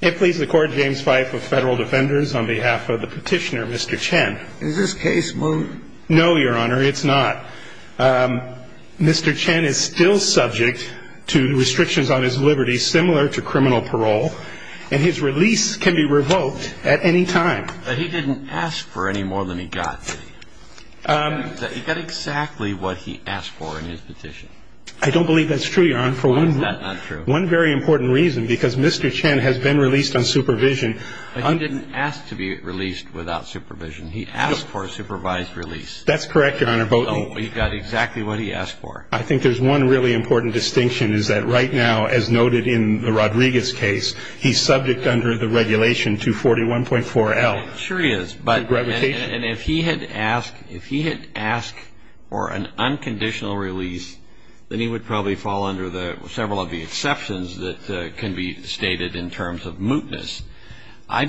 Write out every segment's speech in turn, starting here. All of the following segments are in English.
It pleases the Court, James Fife of Federal Defenders, on behalf of the petitioner, Mr. Chen. Is this case moved? No, Your Honor, it's not. Mr. Chen is still subject to restrictions on his liberty, similar to criminal parole, and his release can be revoked at any time. But he didn't ask for any more than he got, did he? He got exactly what he asked for in his petition. I don't believe that's true, Your Honor. Why is that not true? One very important reason, because Mr. Chen has been released on supervision. But he didn't ask to be released without supervision. He asked for a supervised release. That's correct, Your Honor. So he got exactly what he asked for. I think there's one really important distinction is that right now, as noted in the Rodriguez case, he's subject under the regulation 241.4L. Sure he is. And if he had asked for an unconditional release, then he would probably fall under several of the exceptions that can be stated in terms of mootness. I'm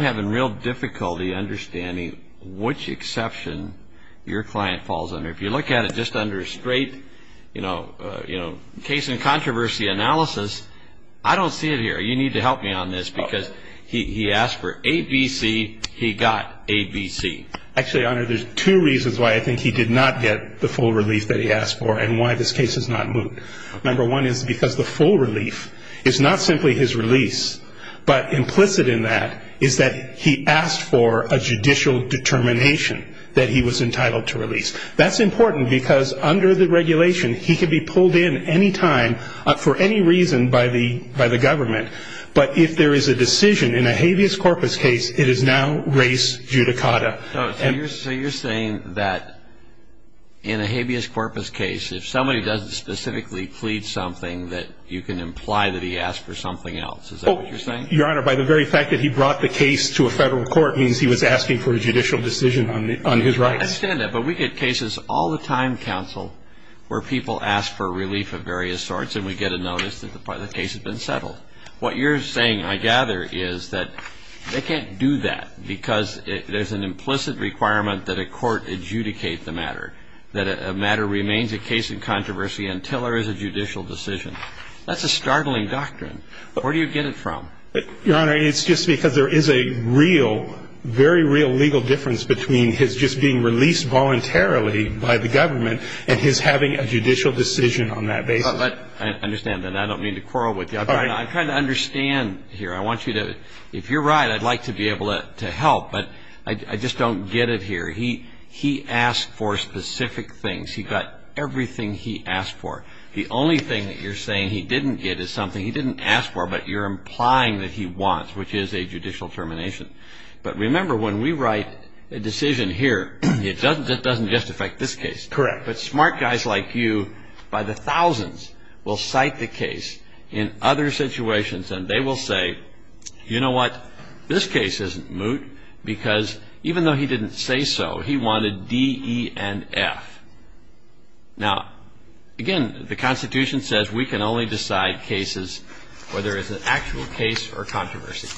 having real difficulty understanding which exception your client falls under. If you look at it just under straight case and controversy analysis, I don't see it here. You need to help me on this, because he asked for ABC. He got ABC. Actually, Your Honor, there's two reasons why I think he did not get the full release that he asked for. And why this case is not moot. Number one is because the full relief is not simply his release, but implicit in that is that he asked for a judicial determination that he was entitled to release. That's important because under the regulation, he could be pulled in any time for any reason by the government. But if there is a decision in a habeas corpus case, it is now race judicata. So you're saying that in a habeas corpus case, if somebody doesn't specifically plead something, that you can imply that he asked for something else. Is that what you're saying? Your Honor, by the very fact that he brought the case to a federal court means he was asking for a judicial decision on his rights. I understand that, but we get cases all the time, counsel, where people ask for relief of various sorts and we get a notice that the case has been settled. What you're saying, I gather, is that they can't do that because there's an implicit requirement that a court adjudicate the matter. That a matter remains a case in controversy until there is a judicial decision. That's a startling doctrine. Where do you get it from? Your Honor, it's just because there is a real, very real legal difference between his just being released voluntarily by the government and his having a judicial decision on that basis. I understand that. I don't mean to quarrel with you. I'm trying to understand here. I want you to, if you're right, I'd like to be able to help, but I just don't get it here. He asked for specific things. He got everything he asked for. The only thing that you're saying he didn't get is something he didn't ask for, but you're implying that he wants, which is a judicial termination. But remember, when we write a decision here, it doesn't just affect this case. Correct. But smart guys like you, by the thousands, will cite the case in other situations, and they will say, you know what? This case isn't moot because even though he didn't say so, he wanted D, E, and F. Now, again, the Constitution says we can only decide cases where there is an actual case or controversy.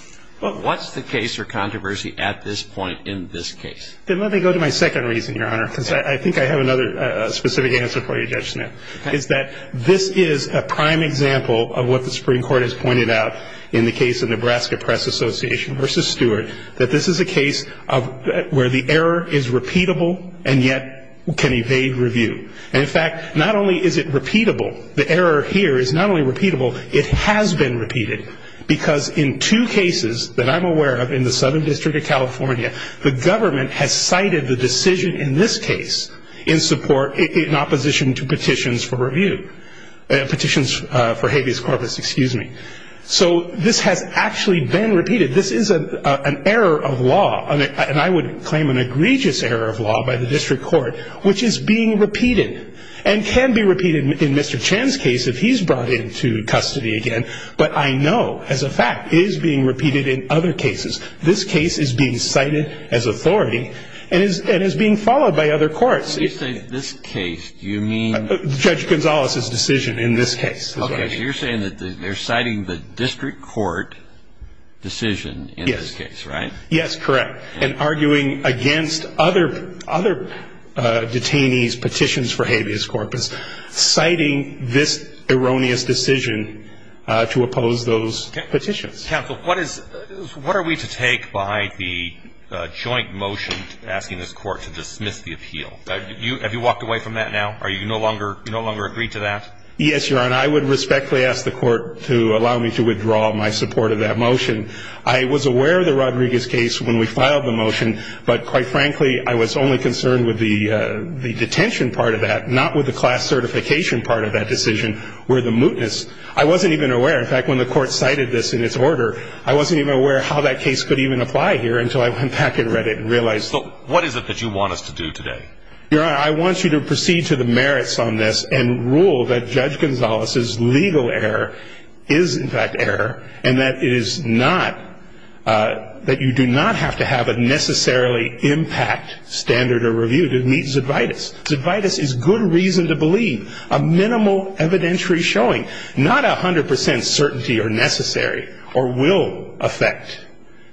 But what's the case or controversy at this point in this case? Then let me go to my second reason, Your Honor, because I think I have another specific answer for you, Judge Smith, is that this is a prime example of what the Supreme Court has pointed out in the case of Nebraska Press Association v. Stewart, that this is a case where the error is repeatable and yet can evade review. And, in fact, not only is it repeatable, the error here is not only repeatable, it has been repeated, because in two cases that I'm aware of in the Southern District of California, the government has cited the decision in this case in support, in opposition to petitions for review, petitions for habeas corpus, excuse me. So this has actually been repeated. This is an error of law, and I would claim an egregious error of law by the district court, which is being repeated and can be repeated in Mr. Chan's case if he's brought into custody again. But I know, as a fact, it is being repeated in other cases. This case is being cited as authority and is being followed by other courts. When you say this case, do you mean? Judge Gonzalez's decision in this case. Okay, so you're saying that they're citing the district court decision in this case, right? Yes, correct. And arguing against other detainees' petitions for habeas corpus, citing this erroneous decision to oppose those petitions. Counsel, what are we to take by the joint motion asking this court to dismiss the appeal? Have you walked away from that now? Are you no longer agreed to that? Yes, Your Honor, I would respectfully ask the court to allow me to withdraw my support of that motion. I was aware of the Rodriguez case when we filed the motion, but quite frankly I was only concerned with the detention part of that, not with the class certification part of that decision, where the mootness. I wasn't even aware. In fact, when the court cited this in its order, I wasn't even aware how that case could even apply here until I went back and read it and realized. So what is it that you want us to do today? Your Honor, I want you to proceed to the merits on this and rule that Judge Gonzalez's legal error is in fact error and that it is not that you do not have to have a necessarily impact standard or review to meet Zydvitas. Zydvitas is good reason to believe a minimal evidentiary showing, not 100 percent certainty or necessary or will affect.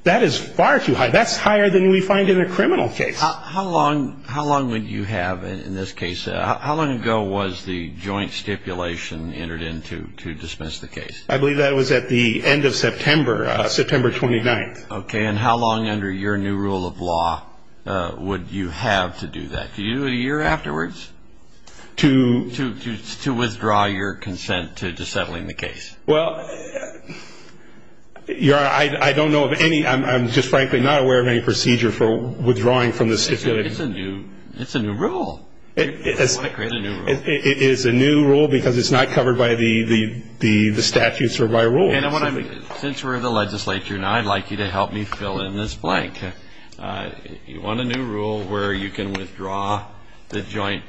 That is far too high. That's higher than we find in a criminal case. How long would you have in this case? How long ago was the joint stipulation entered in to dismiss the case? I believe that was at the end of September, September 29th. Okay. And how long under your new rule of law would you have to do that? Do you do a year afterwards to withdraw your consent to settling the case? Well, Your Honor, I don't know of any. I'm just frankly not aware of any procedure for withdrawing from the stipulation. It's a new rule. Why create a new rule? It is a new rule because it's not covered by the statutes or by a rule. Since we're in the legislature now, I'd like you to help me fill in this blank. You want a new rule where you can withdraw the joint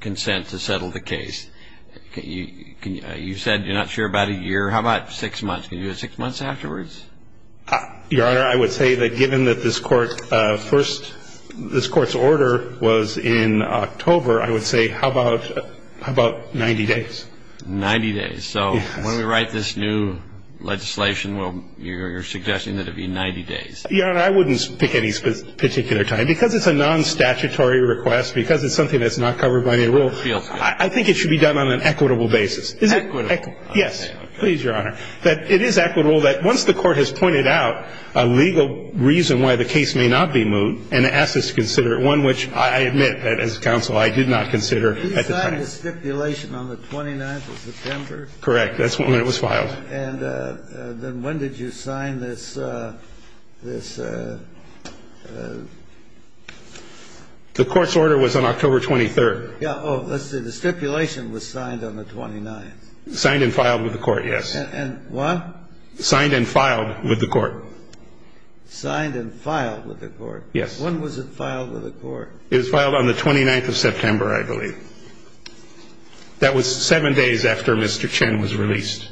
consent to settle the case. You said you're not sure about a year. How about six months? Can you do six months afterwards? Your Honor, I would say that given that this court's order was in October, I would say how about 90 days? Ninety days. So when we write this new legislation, you're suggesting that it be 90 days. Your Honor, I wouldn't pick any particular time. Because it's a non-statutory request, because it's something that's not covered by the rule, I think it should be done on an equitable basis. Equitable. Yes. Please, Your Honor. It is equitable that once the court has pointed out a legal reason why the case may not be moved and asked us to consider it, one which I admit as counsel I did not consider at the time. Did you sign the stipulation on the 29th of September? Correct. That's when it was filed. And then when did you sign this? The court's order was on October 23rd. Oh, let's see. The stipulation was signed on the 29th. Signed and filed with the court, yes. And what? Signed and filed with the court. Signed and filed with the court. Yes. When was it filed with the court? It was filed on the 29th of September, I believe. That was seven days after Mr. Chin was released.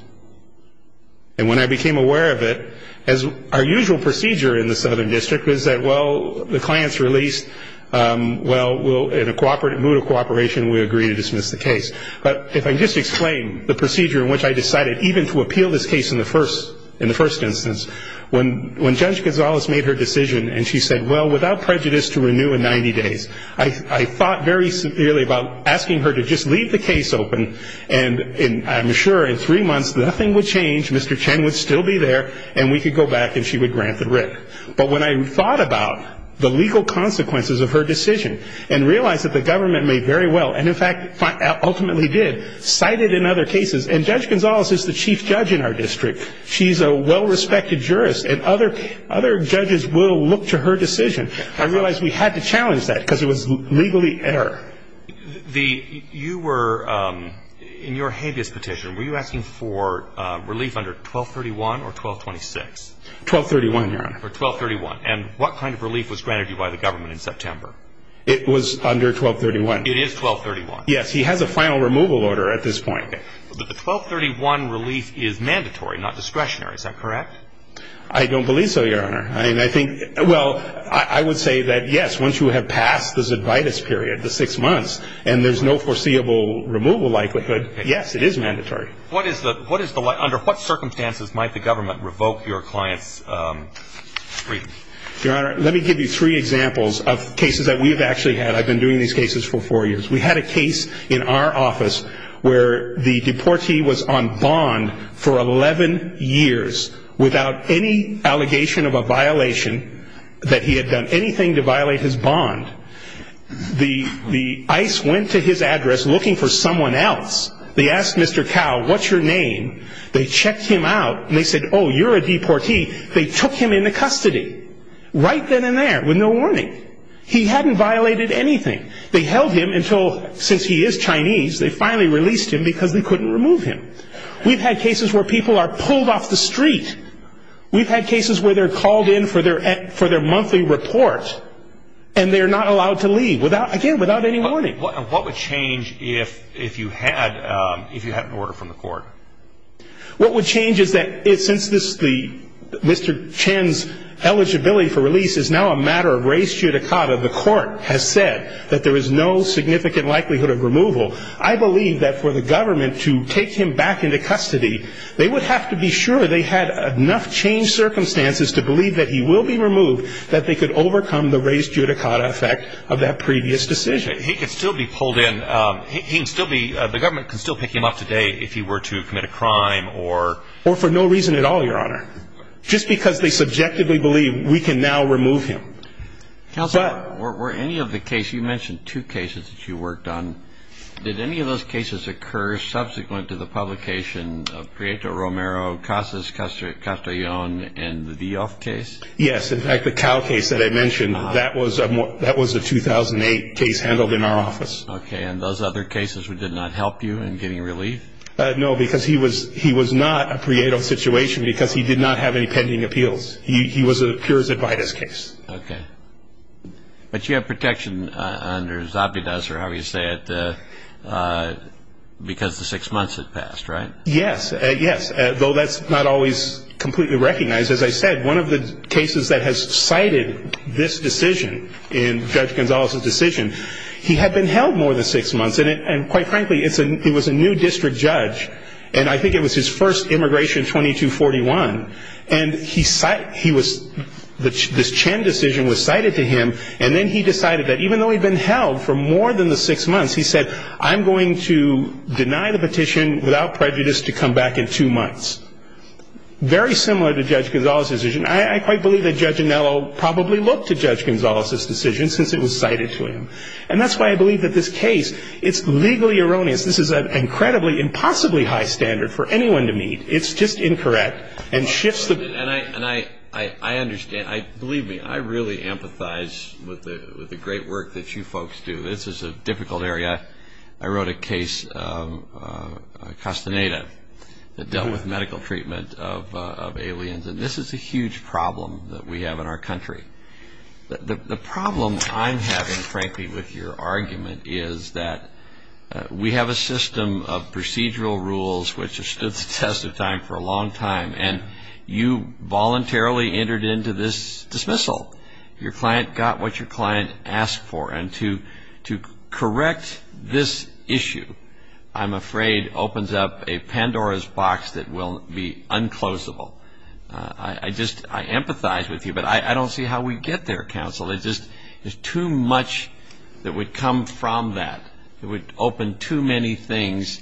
And when I became aware of it, as our usual procedure in the Southern District was that, well, the client's released, well, in a cooperative mood of cooperation, we agree to dismiss the case. But if I can just explain the procedure in which I decided even to appeal this case in the first instance, when Judge Gonzalez made her decision and she said, well, without prejudice to renew in 90 days, I thought very severely about asking her to just leave the case open and I'm sure in three months nothing would change, Mr. Chin would still be there, and we could go back and she would grant the writ. But when I thought about the legal consequences of her decision and realized that the government made very well and, in fact, ultimately did, cited in other cases, and Judge Gonzalez is the chief judge in our district. She's a well-respected jurist, and other judges will look to her decision. I realized we had to challenge that because it was legally error. You were, in your habeas petition, were you asking for relief under 1231 or 1226? 1231, Your Honor. Or 1231. And what kind of relief was granted you by the government in September? It was under 1231. It is 1231. Yes, he has a final removal order at this point. But the 1231 release is mandatory, not discretionary. Is that correct? I don't believe so, Your Honor. I mean, I think, well, I would say that, yes, once you have passed this ad vitis period, the six months, and there's no foreseeable removal likelihood, yes, it is mandatory. What is the, under what circumstances might the government revoke your client's freedom? Your Honor, let me give you three examples of cases that we have actually had. I've been doing these cases for four years. We had a case in our office where the deportee was on bond for 11 years without any allegation of a violation that he had done anything to violate his bond. The ICE went to his address looking for someone else. They asked Mr. Cowell, what's your name? They checked him out, and they said, oh, you're a deportee. They took him into custody right then and there with no warning. He hadn't violated anything. They held him until, since he is Chinese, they finally released him because they couldn't remove him. We've had cases where people are pulled off the street. We've had cases where they're called in for their monthly report, and they're not allowed to leave, again, without any warning. What would change is that since Mr. Chen's eligibility for release is now a matter of res judicata, the court has said that there is no significant likelihood of removal, I believe that for the government to take him back into custody, they would have to be sure they had enough changed circumstances to believe that he will be removed that they could overcome the res judicata effect of that previous decision. He could still be pulled in. He can still be, the government can still pick him up today if he were to commit a crime or... Or for no reason at all, Your Honor. Just because they subjectively believe we can now remove him. Counselor, were any of the cases, you mentioned two cases that you worked on. Did any of those cases occur subsequent to the publication of Prieto Romero, Casas Castellon, and the Vioff case? Yes, in fact, the Cowell case that I mentioned, that was a 2008 case handled in our office. Okay, and those other cases did not help you in getting relief? No, because he was not a Prieto situation because he did not have any pending appeals. He was a Pures Advaitis case. Okay. But you have protection under Zabides, or however you say it, because the six months had passed, right? Yes, yes, though that's not always completely recognized. As I said, one of the cases that has cited this decision, in Judge Gonzalez's decision, he had been held more than six months, and quite frankly, he was a new district judge, and I think it was his first immigration, 2241, and this Chen decision was cited to him, and then he decided that even though he'd been held for more than the six months, he said, I'm going to deny the petition without prejudice to come back in two months. Very similar to Judge Gonzalez's decision. I quite believe that Judge Anello probably looked to Judge Gonzalez's decision since it was cited to him, and that's why I believe that this case, it's legally erroneous. This is an incredibly, impossibly high standard for anyone to meet. It's just incorrect and shifts the- And I understand. Believe me, I really empathize with the great work that you folks do. This is a difficult area. I wrote a case, Castaneda, that dealt with medical treatment of aliens, and this is a huge problem that we have in our country. The problem I'm having, frankly, with your argument is that we have a system of procedural rules which have stood the test of time for a long time, and you voluntarily entered into this dismissal. Your client got what your client asked for, and to correct this issue, I'm afraid, opens up a Pandora's box that will be unclosable. I just empathize with you, but I don't see how we get there, counsel. There's just too much that would come from that. It would open too many things,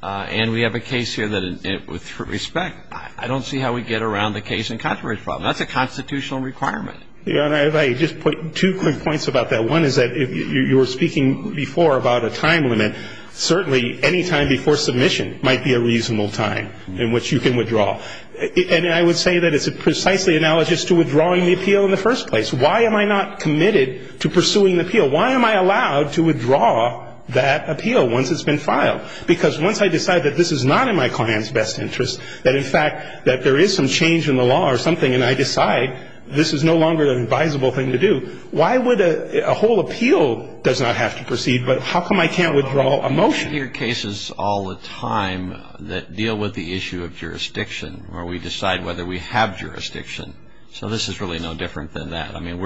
and we have a case here that, with respect, I don't see how we get around the case and controversy problem. That's a constitutional requirement. Your Honor, if I could just put two quick points about that. One is that you were speaking before about a time limit. Certainly, any time before submission might be a reasonable time in which you can withdraw. And I would say that it's precisely analogous to withdrawing the appeal in the first place. Why am I not committed to pursuing the appeal? Why am I allowed to withdraw that appeal once it's been filed? Because once I decide that this is not in my client's best interest, that in fact there is some change in the law or something, and I decide this is no longer an advisable thing to do, why would a whole appeal does not have to proceed? But how come I can't withdraw a motion? We hear cases all the time that deal with the issue of jurisdiction, where we decide whether we have jurisdiction. So this is really no different than that. I mean,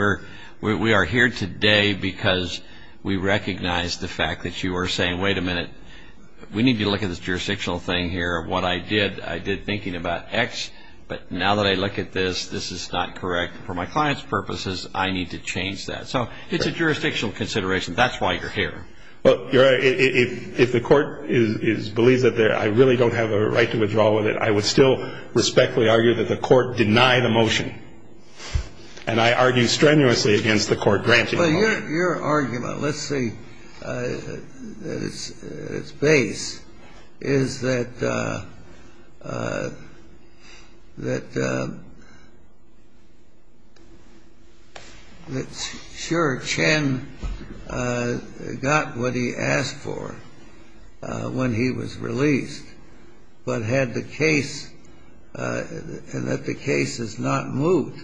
we are here today because we recognize the fact that you are saying, wait a minute, we need to look at this jurisdictional thing here. What I did, I did thinking about X, but now that I look at this, this is not correct for my client's purposes. I need to change that. So it's a jurisdictional consideration. That's why you're here. Well, Your Honor, if the Court believes that I really don't have a right to withdraw with it, I would still respectfully argue that the Court deny the motion. Well, your argument, let's say at its base, is that sure, Chen got what he asked for when he was released, but had the case, and that the case is not moved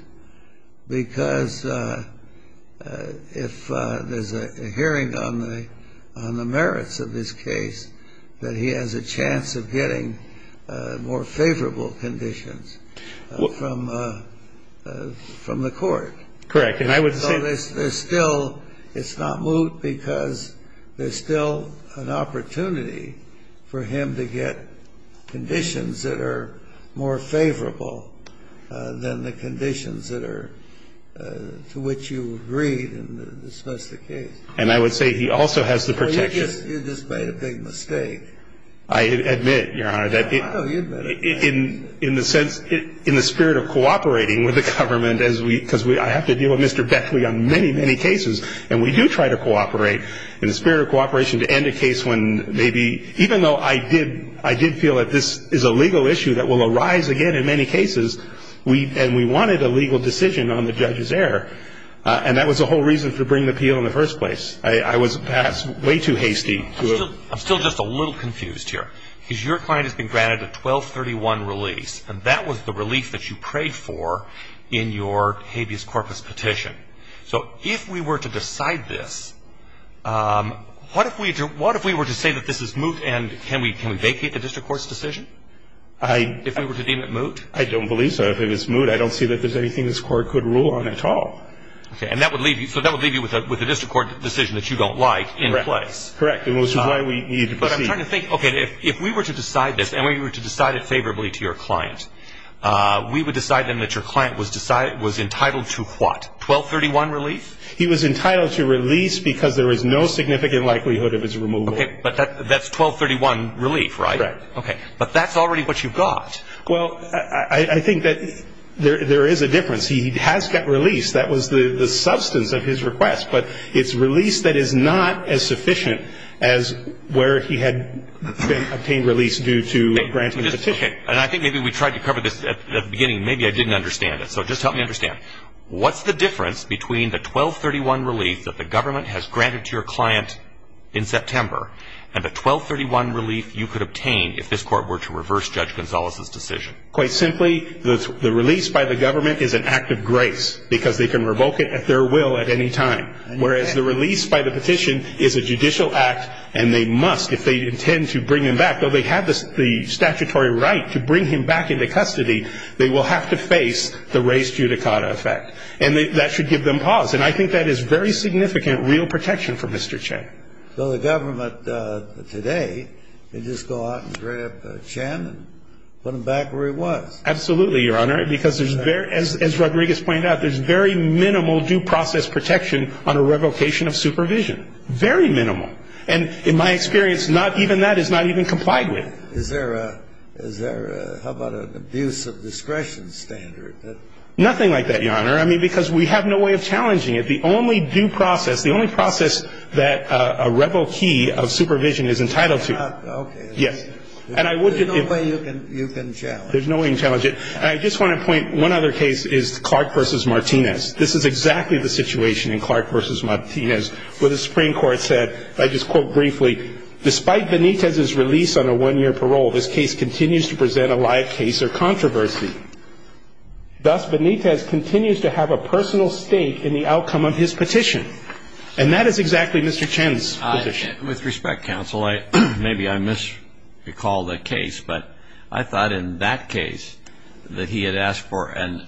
because if there's a hearing on the merits of this case, that he has a chance of getting more favorable conditions from the Court. Correct. And I would say that. So there's still, it's not moved because there's still an opportunity for him to get conditions that are more favorable than the conditions that are, to which you agreed in the dismissal case. And I would say he also has the protection. Well, you just made a big mistake. I admit, Your Honor, that it. No, you admit it. In the sense, in the spirit of cooperating with the government as we, because I have to deal with Mr. Beckley on many, many cases, and we do try to cooperate, in the spirit of cooperation, to end a case when maybe, even though I did, I did feel that this is a legal issue that will arise again in many cases, and we wanted a legal decision on the judge's error, and that was the whole reason for bringing the appeal in the first place. I was perhaps way too hasty. I'm still just a little confused here, because your client has been granted a 1231 release, and that was the relief that you prayed for in your habeas corpus petition. So if we were to decide this, what if we were to say that this is moot, and can we vacate the district court's decision if we were to deem it moot? I don't believe so. If it was moot, I don't see that there's anything this court could rule on at all. Okay. And that would leave you with a district court decision that you don't like in place. Correct. And this is why we need to proceed. But I'm trying to think, okay, if we were to decide this, and we were to decide it favorably to your client, we would decide then that your client was entitled to what? 1231 release? He was entitled to release because there was no significant likelihood of his removal. Okay. But that's 1231 relief, right? Right. Okay. But that's already what you've got. Well, I think that there is a difference. He has got release. That was the substance of his request. But it's release that is not as sufficient as where he had obtained release due to granting the petition. And I think maybe we tried to cover this at the beginning. Maybe I didn't understand it. So just help me understand. What's the difference between the 1231 relief that the government has granted to your client in September and the 1231 relief you could obtain if this court were to reverse Judge Gonzalez's decision? Quite simply, the release by the government is an act of grace because they can revoke it at their will at any time. Whereas the release by the petition is a judicial act, and they must, if they intend to bring him back, though they have the statutory right to bring him back into custody, they will have to face the race judicata effect. And that should give them pause. And I think that is very significant real protection for Mr. Chen. So the government today can just go out and grab Chen and put him back where he was. Absolutely, Your Honor, because as Rodriguez pointed out, there's very minimal due process protection on a revocation of supervision, very minimal. And in my experience, even that is not even complied with. Is there a ‑‑ how about an abuse of discretion standard? Nothing like that, Your Honor, I mean, because we have no way of challenging it. The only due process, the only process that a revokee of supervision is entitled to. Okay. Yes. There's no way you can challenge it. There's no way you can challenge it. And I just want to point, one other case is Clark v. Martinez. This is exactly the situation in Clark v. Martinez where the Supreme Court said, despite Benitez's release on a one‑year parole, this case continues to present a live case or controversy. Thus, Benitez continues to have a personal stake in the outcome of his petition. And that is exactly Mr. Chen's position. With respect, counsel, maybe I misrecalled the case, but I thought in that case that he had asked for an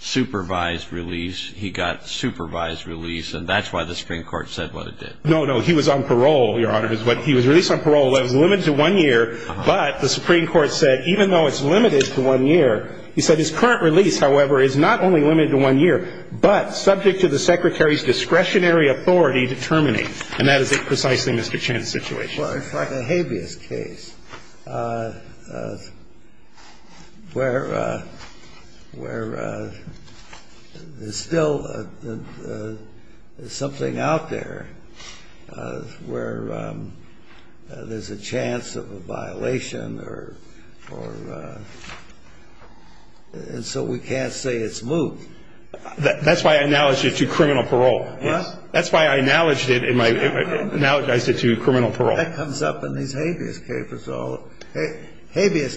unsupervised release. He got supervised release, and that's why the Supreme Court said what it did. No, no. He was on parole, Your Honor. He was released on parole. It was limited to one year. But the Supreme Court said, even though it's limited to one year, he said, his current release, however, is not only limited to one year, but subject to the Secretary's discretionary authority to terminate. And that is precisely Mr. Chen's situation. Well, it's like a habeas case where there's still something out there where there's a chance of a violation or ‑‑ and so we can't say it's moved. That's why I acknowledged it to criminal parole. Yes. That comes up in these habeas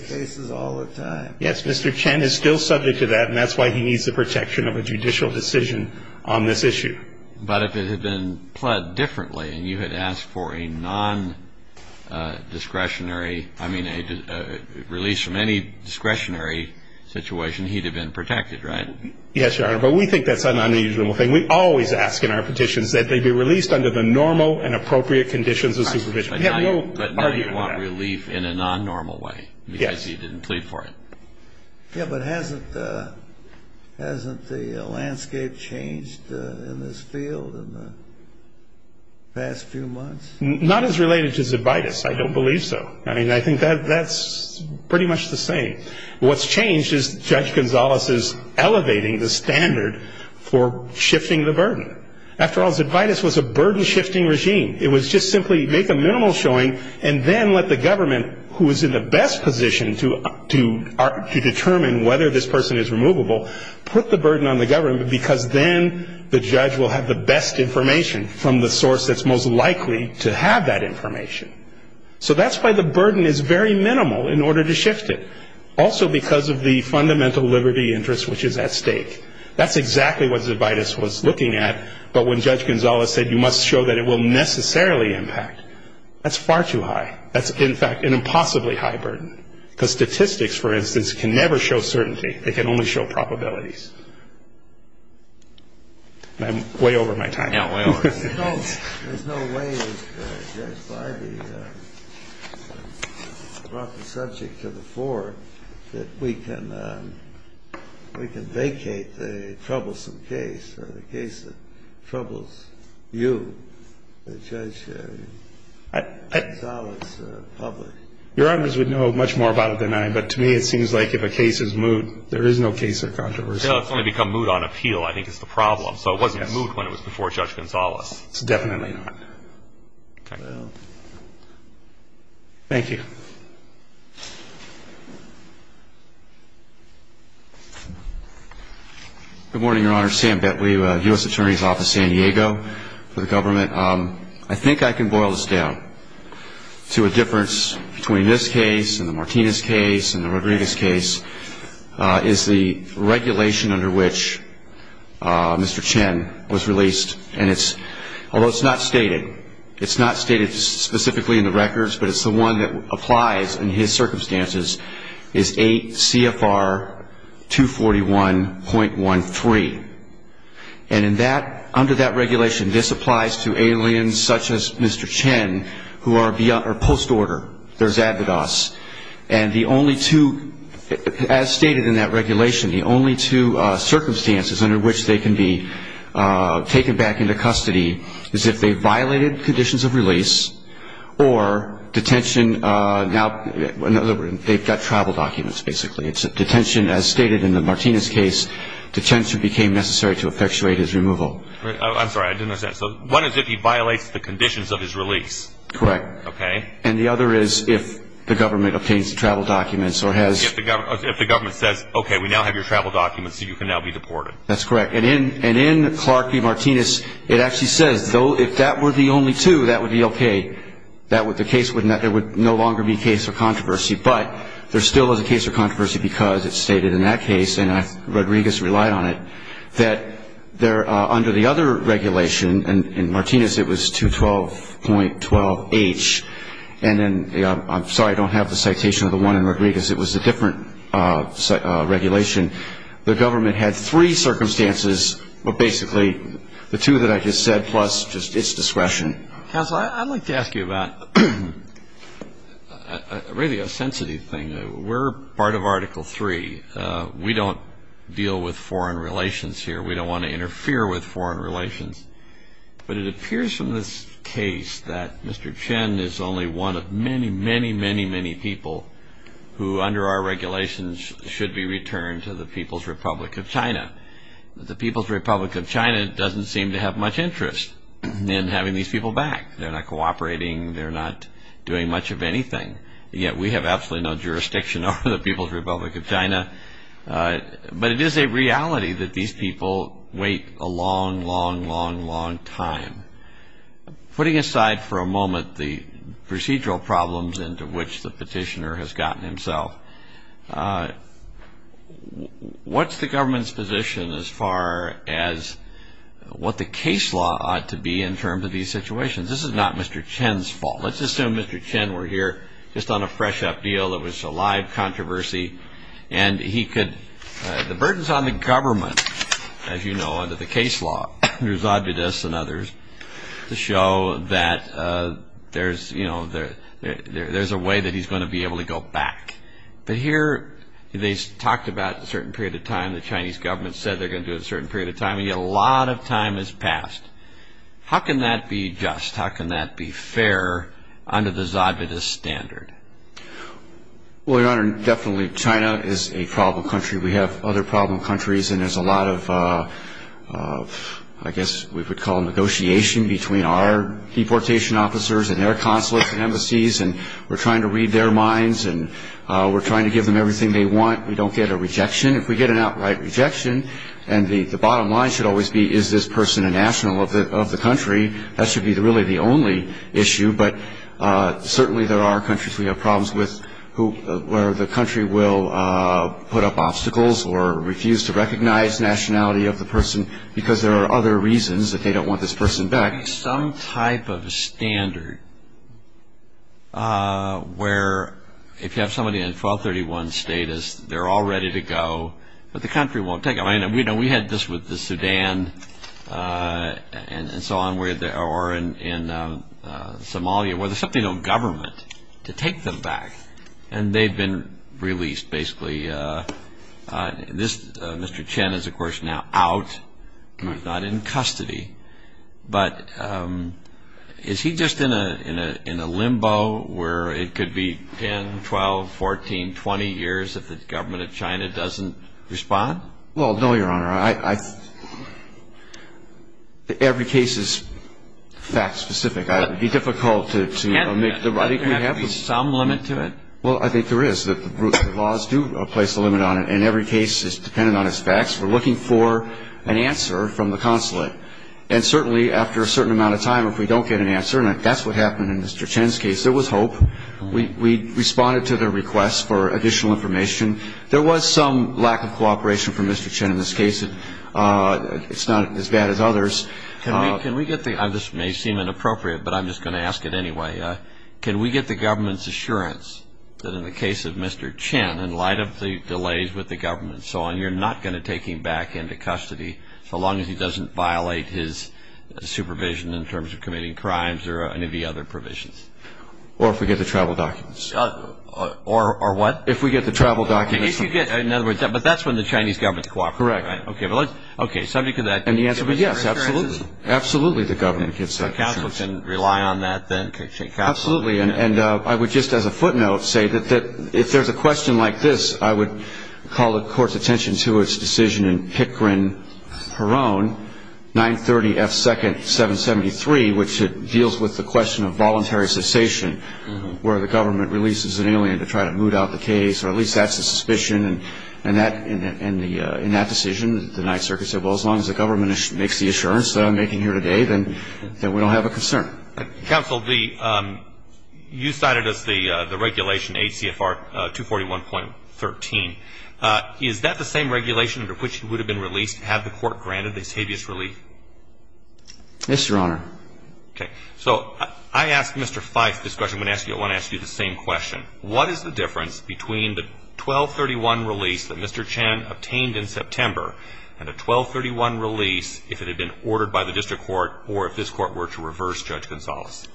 cases all the time. Yes. Mr. Chen is still subject to that, and that's why he needs the protection of a judicial decision on this issue. But if it had been pled differently and you had asked for a non‑discretionary ‑‑ I mean a release from any discretionary situation, he'd have been protected, right? Yes, Your Honor. But we think that's an unusual thing. And we always ask in our petitions that they be released under the normal and appropriate conditions of supervision. But now you want relief in a non‑normal way because he didn't plead for it. Yes. Yes, but hasn't the landscape changed in this field in the past few months? Not as related to Zebitis. I don't believe so. I mean, I think that's pretty much the same. What's changed is Judge Gonzales is elevating the standard for shifting the burden. After all, Zebitis was a burden shifting regime. It was just simply make a minimal showing and then let the government, who is in the best position to determine whether this person is removable, put the burden on the government because then the judge will have the best information from the source that's most likely to have that information. So that's why the burden is very minimal in order to shift it. Also because of the fundamental liberty interest, which is at stake. That's exactly what Zebitis was looking at. But when Judge Gonzales said you must show that it will necessarily impact, that's far too high. That's, in fact, an impossibly high burden. Because statistics, for instance, can never show certainty. They can only show probabilities. I'm way over my time. There's no way if Judge Bidey brought the subject to the fore that we can vacate the troublesome case, the case that troubles you, Judge Gonzales, public. Your Honors would know much more about it than I, but to me it seems like if a case is moot there is no case of controversy. It's only become moot on appeal, I think, is the problem. So it wasn't moot when it was before Judge Gonzales. It's definitely not. Okay. Thank you. Good morning, Your Honor. Sam Betweave, U.S. Attorney's Office, San Diego, for the government. I think I can boil this down to a difference between this case and the Martinez case and the Rodriguez case is the regulation under which Mr. Chen was released. And although it's not stated, it's not stated specifically in the records, but it's the one that applies in his circumstances, is 8 CFR 241.13. And under that regulation, this applies to aliens such as Mr. Chen who are post-order. There's avid us. And the only two, as stated in that regulation, the only two circumstances under which they can be taken back into custody is if they violated conditions of release or detention now, in other words, they've got travel documents basically. It's detention as stated in the Martinez case. Detention became necessary to effectuate his removal. I'm sorry. I didn't understand. So one is if he violates the conditions of his release. Correct. Okay. And the other is if the government obtains the travel documents or has... If the government says, okay, we now have your travel documents so you can now be deported. That's correct. And in Clark v. Martinez, it actually says if that were the only two, that would be okay. The case would no longer be a case of controversy. But there still is a case of controversy because it's stated in that case, and Rodriguez relied on it, that under the other regulation, and in Martinez it was 212.12H, and then I'm sorry I don't have the citation of the one in Rodriguez. It was a different regulation. The government had three circumstances, but basically the two that I just said plus just its discretion. Counsel, I'd like to ask you about a really sensitive thing. We're part of Article III. We don't deal with foreign relations here. We don't want to interfere with foreign relations. But it appears from this case that Mr. Chen is only one of many, many, many, many people who under our regulations should be returned to the People's Republic of China. The People's Republic of China doesn't seem to have much interest in having these people back. They're not cooperating. They're not doing much of anything. Yet we have absolutely no jurisdiction over the People's Republic of China. But it is a reality that these people wait a long, long, long, long time. Putting aside for a moment the procedural problems into which the petitioner has gotten himself, what's the government's position as far as what the case law ought to be in terms of these situations? This is not Mr. Chen's fault. Let's assume Mr. Chen were here just on a fresh-up deal. It was a live controversy. And he could – the burdens on the government, as you know, under the case law, under Zabudis and others, to show that there's a way that he's going to be able to go back. But here they talked about a certain period of time. The Chinese government said they're going to do it a certain period of time. And yet a lot of time has passed. How can that be just? How can that be fair under the Zabudis standard? Well, Your Honor, definitely China is a problem country. We have other problem countries. And there's a lot of, I guess we could call negotiation between our deportation officers and their consulates and embassies. And we're trying to read their minds, and we're trying to give them everything they want. We don't get a rejection. If we get an outright rejection, and the bottom line should always be, is this person a national of the country, that should be really the only issue. But certainly there are countries we have problems with where the country will put up obstacles or refuse to recognize nationality of the person because there are other reasons that they don't want this person back. Some type of standard where if you have somebody in 1231 status, they're all ready to go, but the country won't take them. We had this with the Sudan and so on, or in Somalia, where there's simply no government to take them back. And they've been released, basically. Mr. Chen is, of course, now out, not in custody. But is he just in a limbo where it could be 10, 12, 14, 20 years if the government of China doesn't respond? Well, no, Your Honor. Every case is fact-specific. It would be difficult to make the right decision. There has to be some limit to it. Well, I think there is. The rules and laws do place a limit on it, and every case is dependent on its facts. We're looking for an answer from the consulate. And certainly after a certain amount of time, if we don't get an answer, and that's what happened in Mr. Chen's case, there was hope. We responded to their requests for additional information. There was some lack of cooperation from Mr. Chen in this case. It's not as bad as others. This may seem inappropriate, but I'm just going to ask it anyway. Can we get the government's assurance that in the case of Mr. Chen, in light of the delays with the government and so on, you're not going to take him back into custody, so long as he doesn't violate his supervision in terms of committing crimes or any of the other provisions? Or if we get the travel documents. Or what? If we get the travel documents. If you get, in other words, but that's when the Chinese government cooperates. Correct. Okay, subject to that. And the answer is yes, absolutely. Absolutely the government gets that assurance. So counsel can rely on that then? Absolutely. And I would just as a footnote say that if there's a question like this, I would call the Court's attention to its decision in Hickrin-Perone, 930 F. 2nd, 773, which deals with the question of voluntary cessation, where the government releases an alien to try to moot out the case, or at least that's the suspicion. And in that decision, the Ninth Circuit said, well as long as the government makes the assurance that I'm making here today, then we don't have a concern. Counsel, you cited us the regulation ACFR 241.13. Is that the same regulation under which he would have been released had the Court granted this habeas relief? Yes, Your Honor. Okay. So I asked Mr. Fife this question. I want to ask you the same question. What is the difference between the 1231 release that Mr. Chen obtained in September and a 1231 release if it had been ordered by the district court or if this Court were to reverse Judge Gonzales?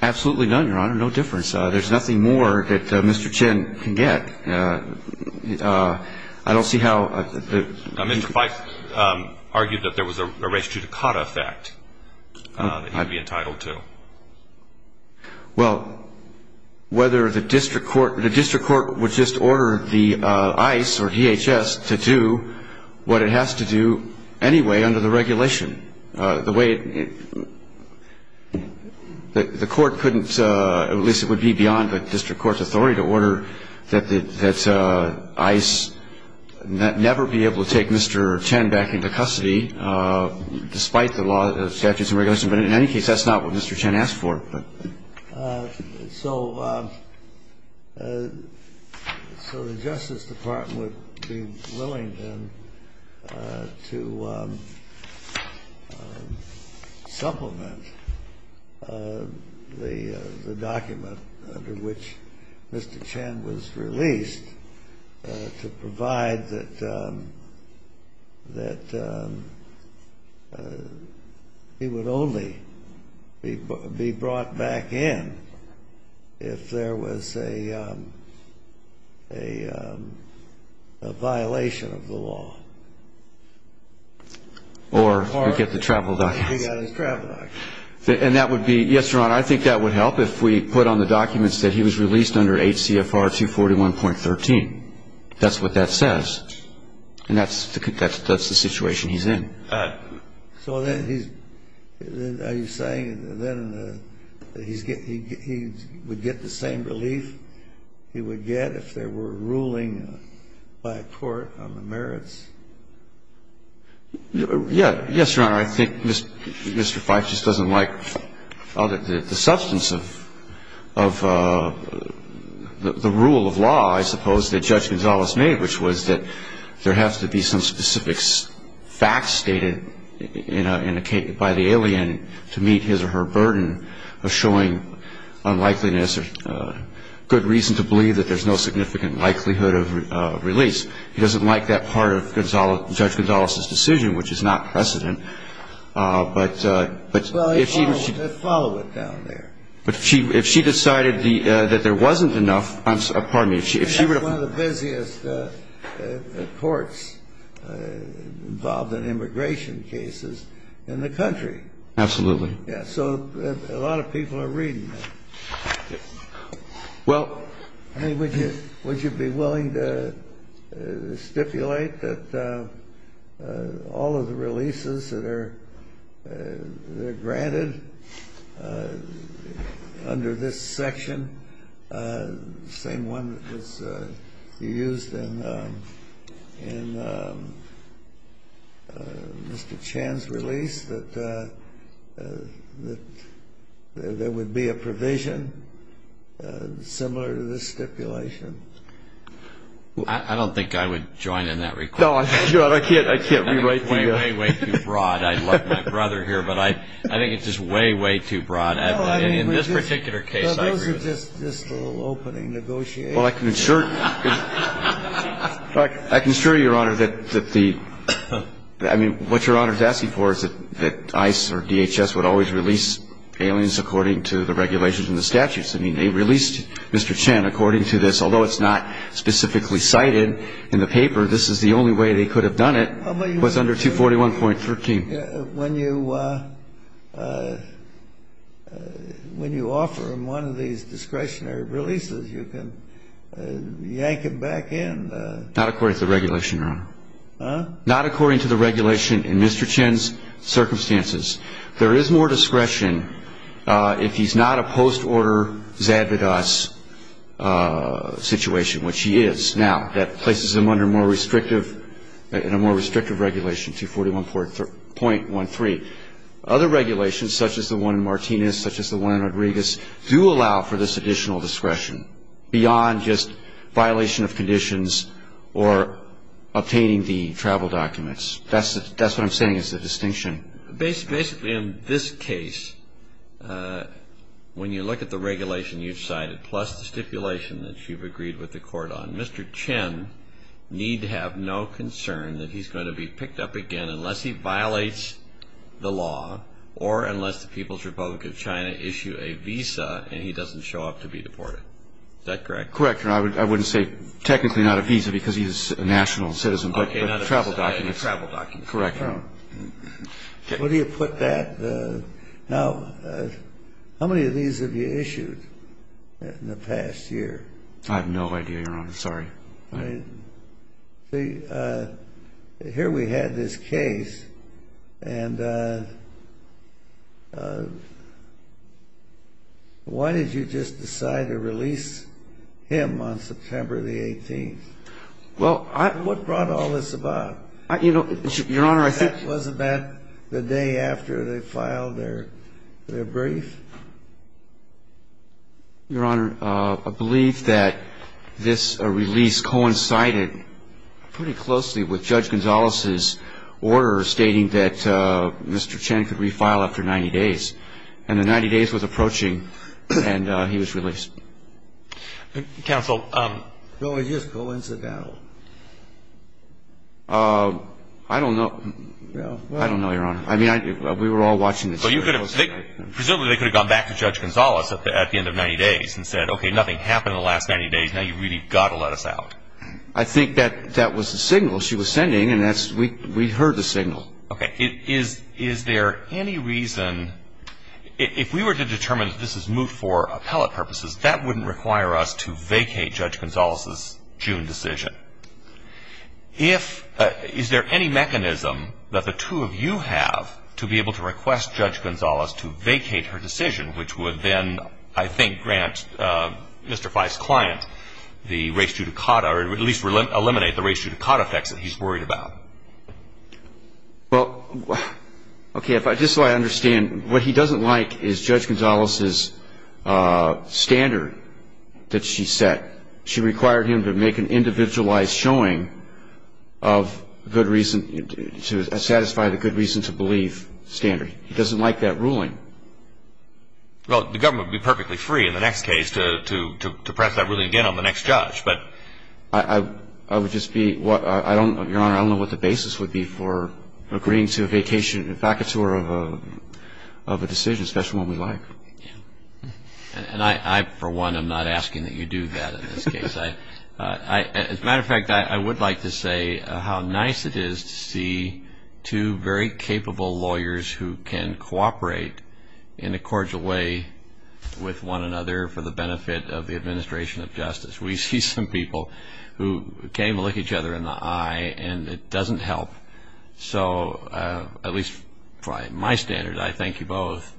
Absolutely none, Your Honor. No difference. There's nothing more that Mr. Chen can get. I don't see how the ---- Mr. Fife argued that there was a res judicata effect that he would be entitled to. Well, whether the district court would just order the ICE or DHS to do what it has to do anyway under the regulation, the way it ---- the court couldn't, at least it would be beyond the district court's authority, to order that ICE never be able to take Mr. Chen back into custody, despite the law, the statutes and regulations. But in any case, that's not what Mr. Chen asked for. So the Justice Department would be willing, then, to supplement the document under which Mr. Chen was released to provide that he would only be brought back in if there was a violation of the law. Or he'd get the travel documents. He got his travel documents. And that would be ---- yes, Your Honor, I think that would help if we put on the documents that he was released under 8 CFR 241.13. That's what that says. And that's the situation he's in. So then he's ---- are you saying then that he would get the same relief he would get if there were a ruling by a court on the merits? Yes, Your Honor. Your Honor, I think Mr. Feist just doesn't like the substance of the rule of law, I suppose, that Judge Gonzales made, which was that there has to be some specific fact stated by the alien to meet his or her burden of showing unlikeliness or good reason to believe that there's no significant likelihood of release. He doesn't like that part of Judge Gonzales' decision, which is not precedent. But if she ---- Well, follow it down there. But if she decided that there wasn't enough ---- pardon me, if she ---- That's one of the busiest courts involved in immigration cases in the country. Absolutely. Yes. So a lot of people are reading that. Well ---- Would you be willing to stipulate that all of the releases that are granted under this section, the same one that was used in Mr. Chan's release, that there would be a provision similar to this stipulation? I don't think I would join in that request. No, I can't. I can't rewrite the ---- Way, way, way too broad. I'd like my brother here, but I think it's just way, way too broad. In this particular case, I agree. Well, those are just a little opening negotiations. Well, I can assure you, Your Honor, that the ---- I mean, what Your Honor is asking for is that ICE or DHS would always release aliens according to the regulations and the statutes. I mean, they released Mr. Chan according to this. Although it's not specifically cited in the paper, this is the only way they could have done it, was under 241.13. When you offer him one of these discretionary releases, you can yank him back in. Not according to the regulation, Your Honor. Huh? Not according to the regulation in Mr. Chan's circumstances. There is more discretion if he's not a post-order Zadvigas situation, which he is now. That places him under more restrictive ---- in a more restrictive regulation, 241.13. Other regulations, such as the one in Martinez, such as the one in Rodriguez, do allow for this additional discretion beyond just violation of conditions or obtaining the travel documents. That's what I'm saying is the distinction. Basically, in this case, when you look at the regulation you've cited, plus the stipulation that you've agreed with the court on, Mr. Chan need have no concern that he's going to be picked up again unless he violates the law or unless the People's Republic of China issue a visa and he doesn't show up to be deported. Is that correct? Correct, Your Honor. I wouldn't say technically not a visa because he's a national citizen, but travel documents. Travel documents. Correct, Your Honor. Where do you put that? Now, how many of these have you issued in the past year? I have no idea, Your Honor. Sorry. Here we had this case, and why did you just decide to release him on September the 18th? Well, I ---- What brought all this about? You know, Your Honor, I think ---- That was about the day after they filed their brief? Your Honor, I believe that this release coincided pretty closely with Judge Gonzalez's order stating that Mr. Chan could refile after 90 days. And the 90 days was approaching, and he was released. Counsel ---- No, it just coincidental. I don't know. I don't know, Your Honor. I mean, we were all watching this. Presumably they could have gone back to Judge Gonzalez at the end of 90 days and said, okay, nothing happened in the last 90 days, now you've really got to let us out. I think that that was the signal she was sending, and we heard the signal. Okay. Is there any reason ---- if we were to determine that this is moot for appellate purposes, that wouldn't require us to vacate Judge Gonzalez's June decision. If ---- Is there any mechanism that the two of you have to be able to request Judge Gonzalez to vacate her decision, which would then, I think, grant Mr. Fye's client the res judicata or at least eliminate the res judicata effects that he's worried about? Well, okay, just so I understand, what he doesn't like is Judge Gonzalez's standard that she set. She required him to make an individualized showing of good reason to satisfy the good reason to believe standard. He doesn't like that ruling. Well, the government would be perfectly free in the next case to press that ruling again on the next judge. But I would just be what ---- I don't know, Your Honor, I don't know what the basis would be for agreeing to a vacation, a vacatur of a decision, especially one we like. And I, for one, am not asking that you do that in this case. As a matter of fact, I would like to say how nice it is to see two very capable lawyers who can cooperate in a cordial way with one another for the benefit of the administration of justice. We see some people who can't even look each other in the eye, and it doesn't help. So, at least by my standard, I thank you both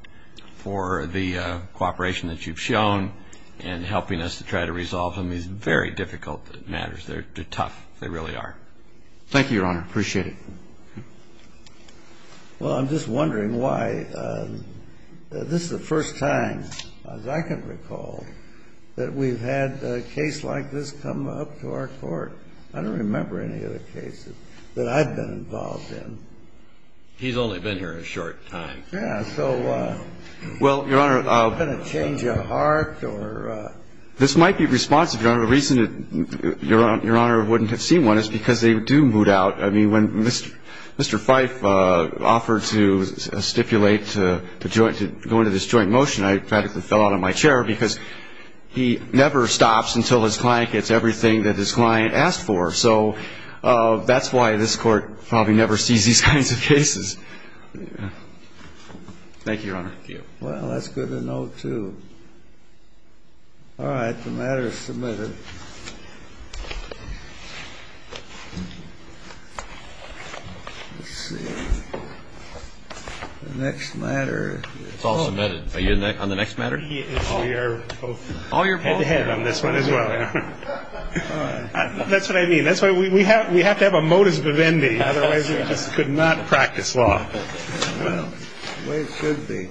for the cooperation that you've shown in helping us to try to resolve some of these very difficult matters. They're tough. They really are. Thank you, Your Honor. Appreciate it. Well, I'm just wondering why this is the first time, as I can recall, that we've had a case like this come up to our court. I don't remember any other cases that I've been involved in. He's only been here a short time. Yeah. So, I'm not going to change a heart. This might be responsive, Your Honor. The reason, Your Honor, I wouldn't have seen one is because they do moot out. I mean, when Mr. Fife offered to stipulate to go into this joint motion, I practically fell out of my chair because he never stops until his client gets everything that his client asked for. So, that's why this court probably never sees these kinds of cases. Thank you, Your Honor. Thank you. Well, that's good to know, too. All right. The matter is submitted. Let's see. The next matter. It's all submitted. Are you on the next matter? We are both. Head to head on this one as well. That's what I mean. That's why we have to have a modus vivendi. Otherwise, we just could not practice law the way it should be.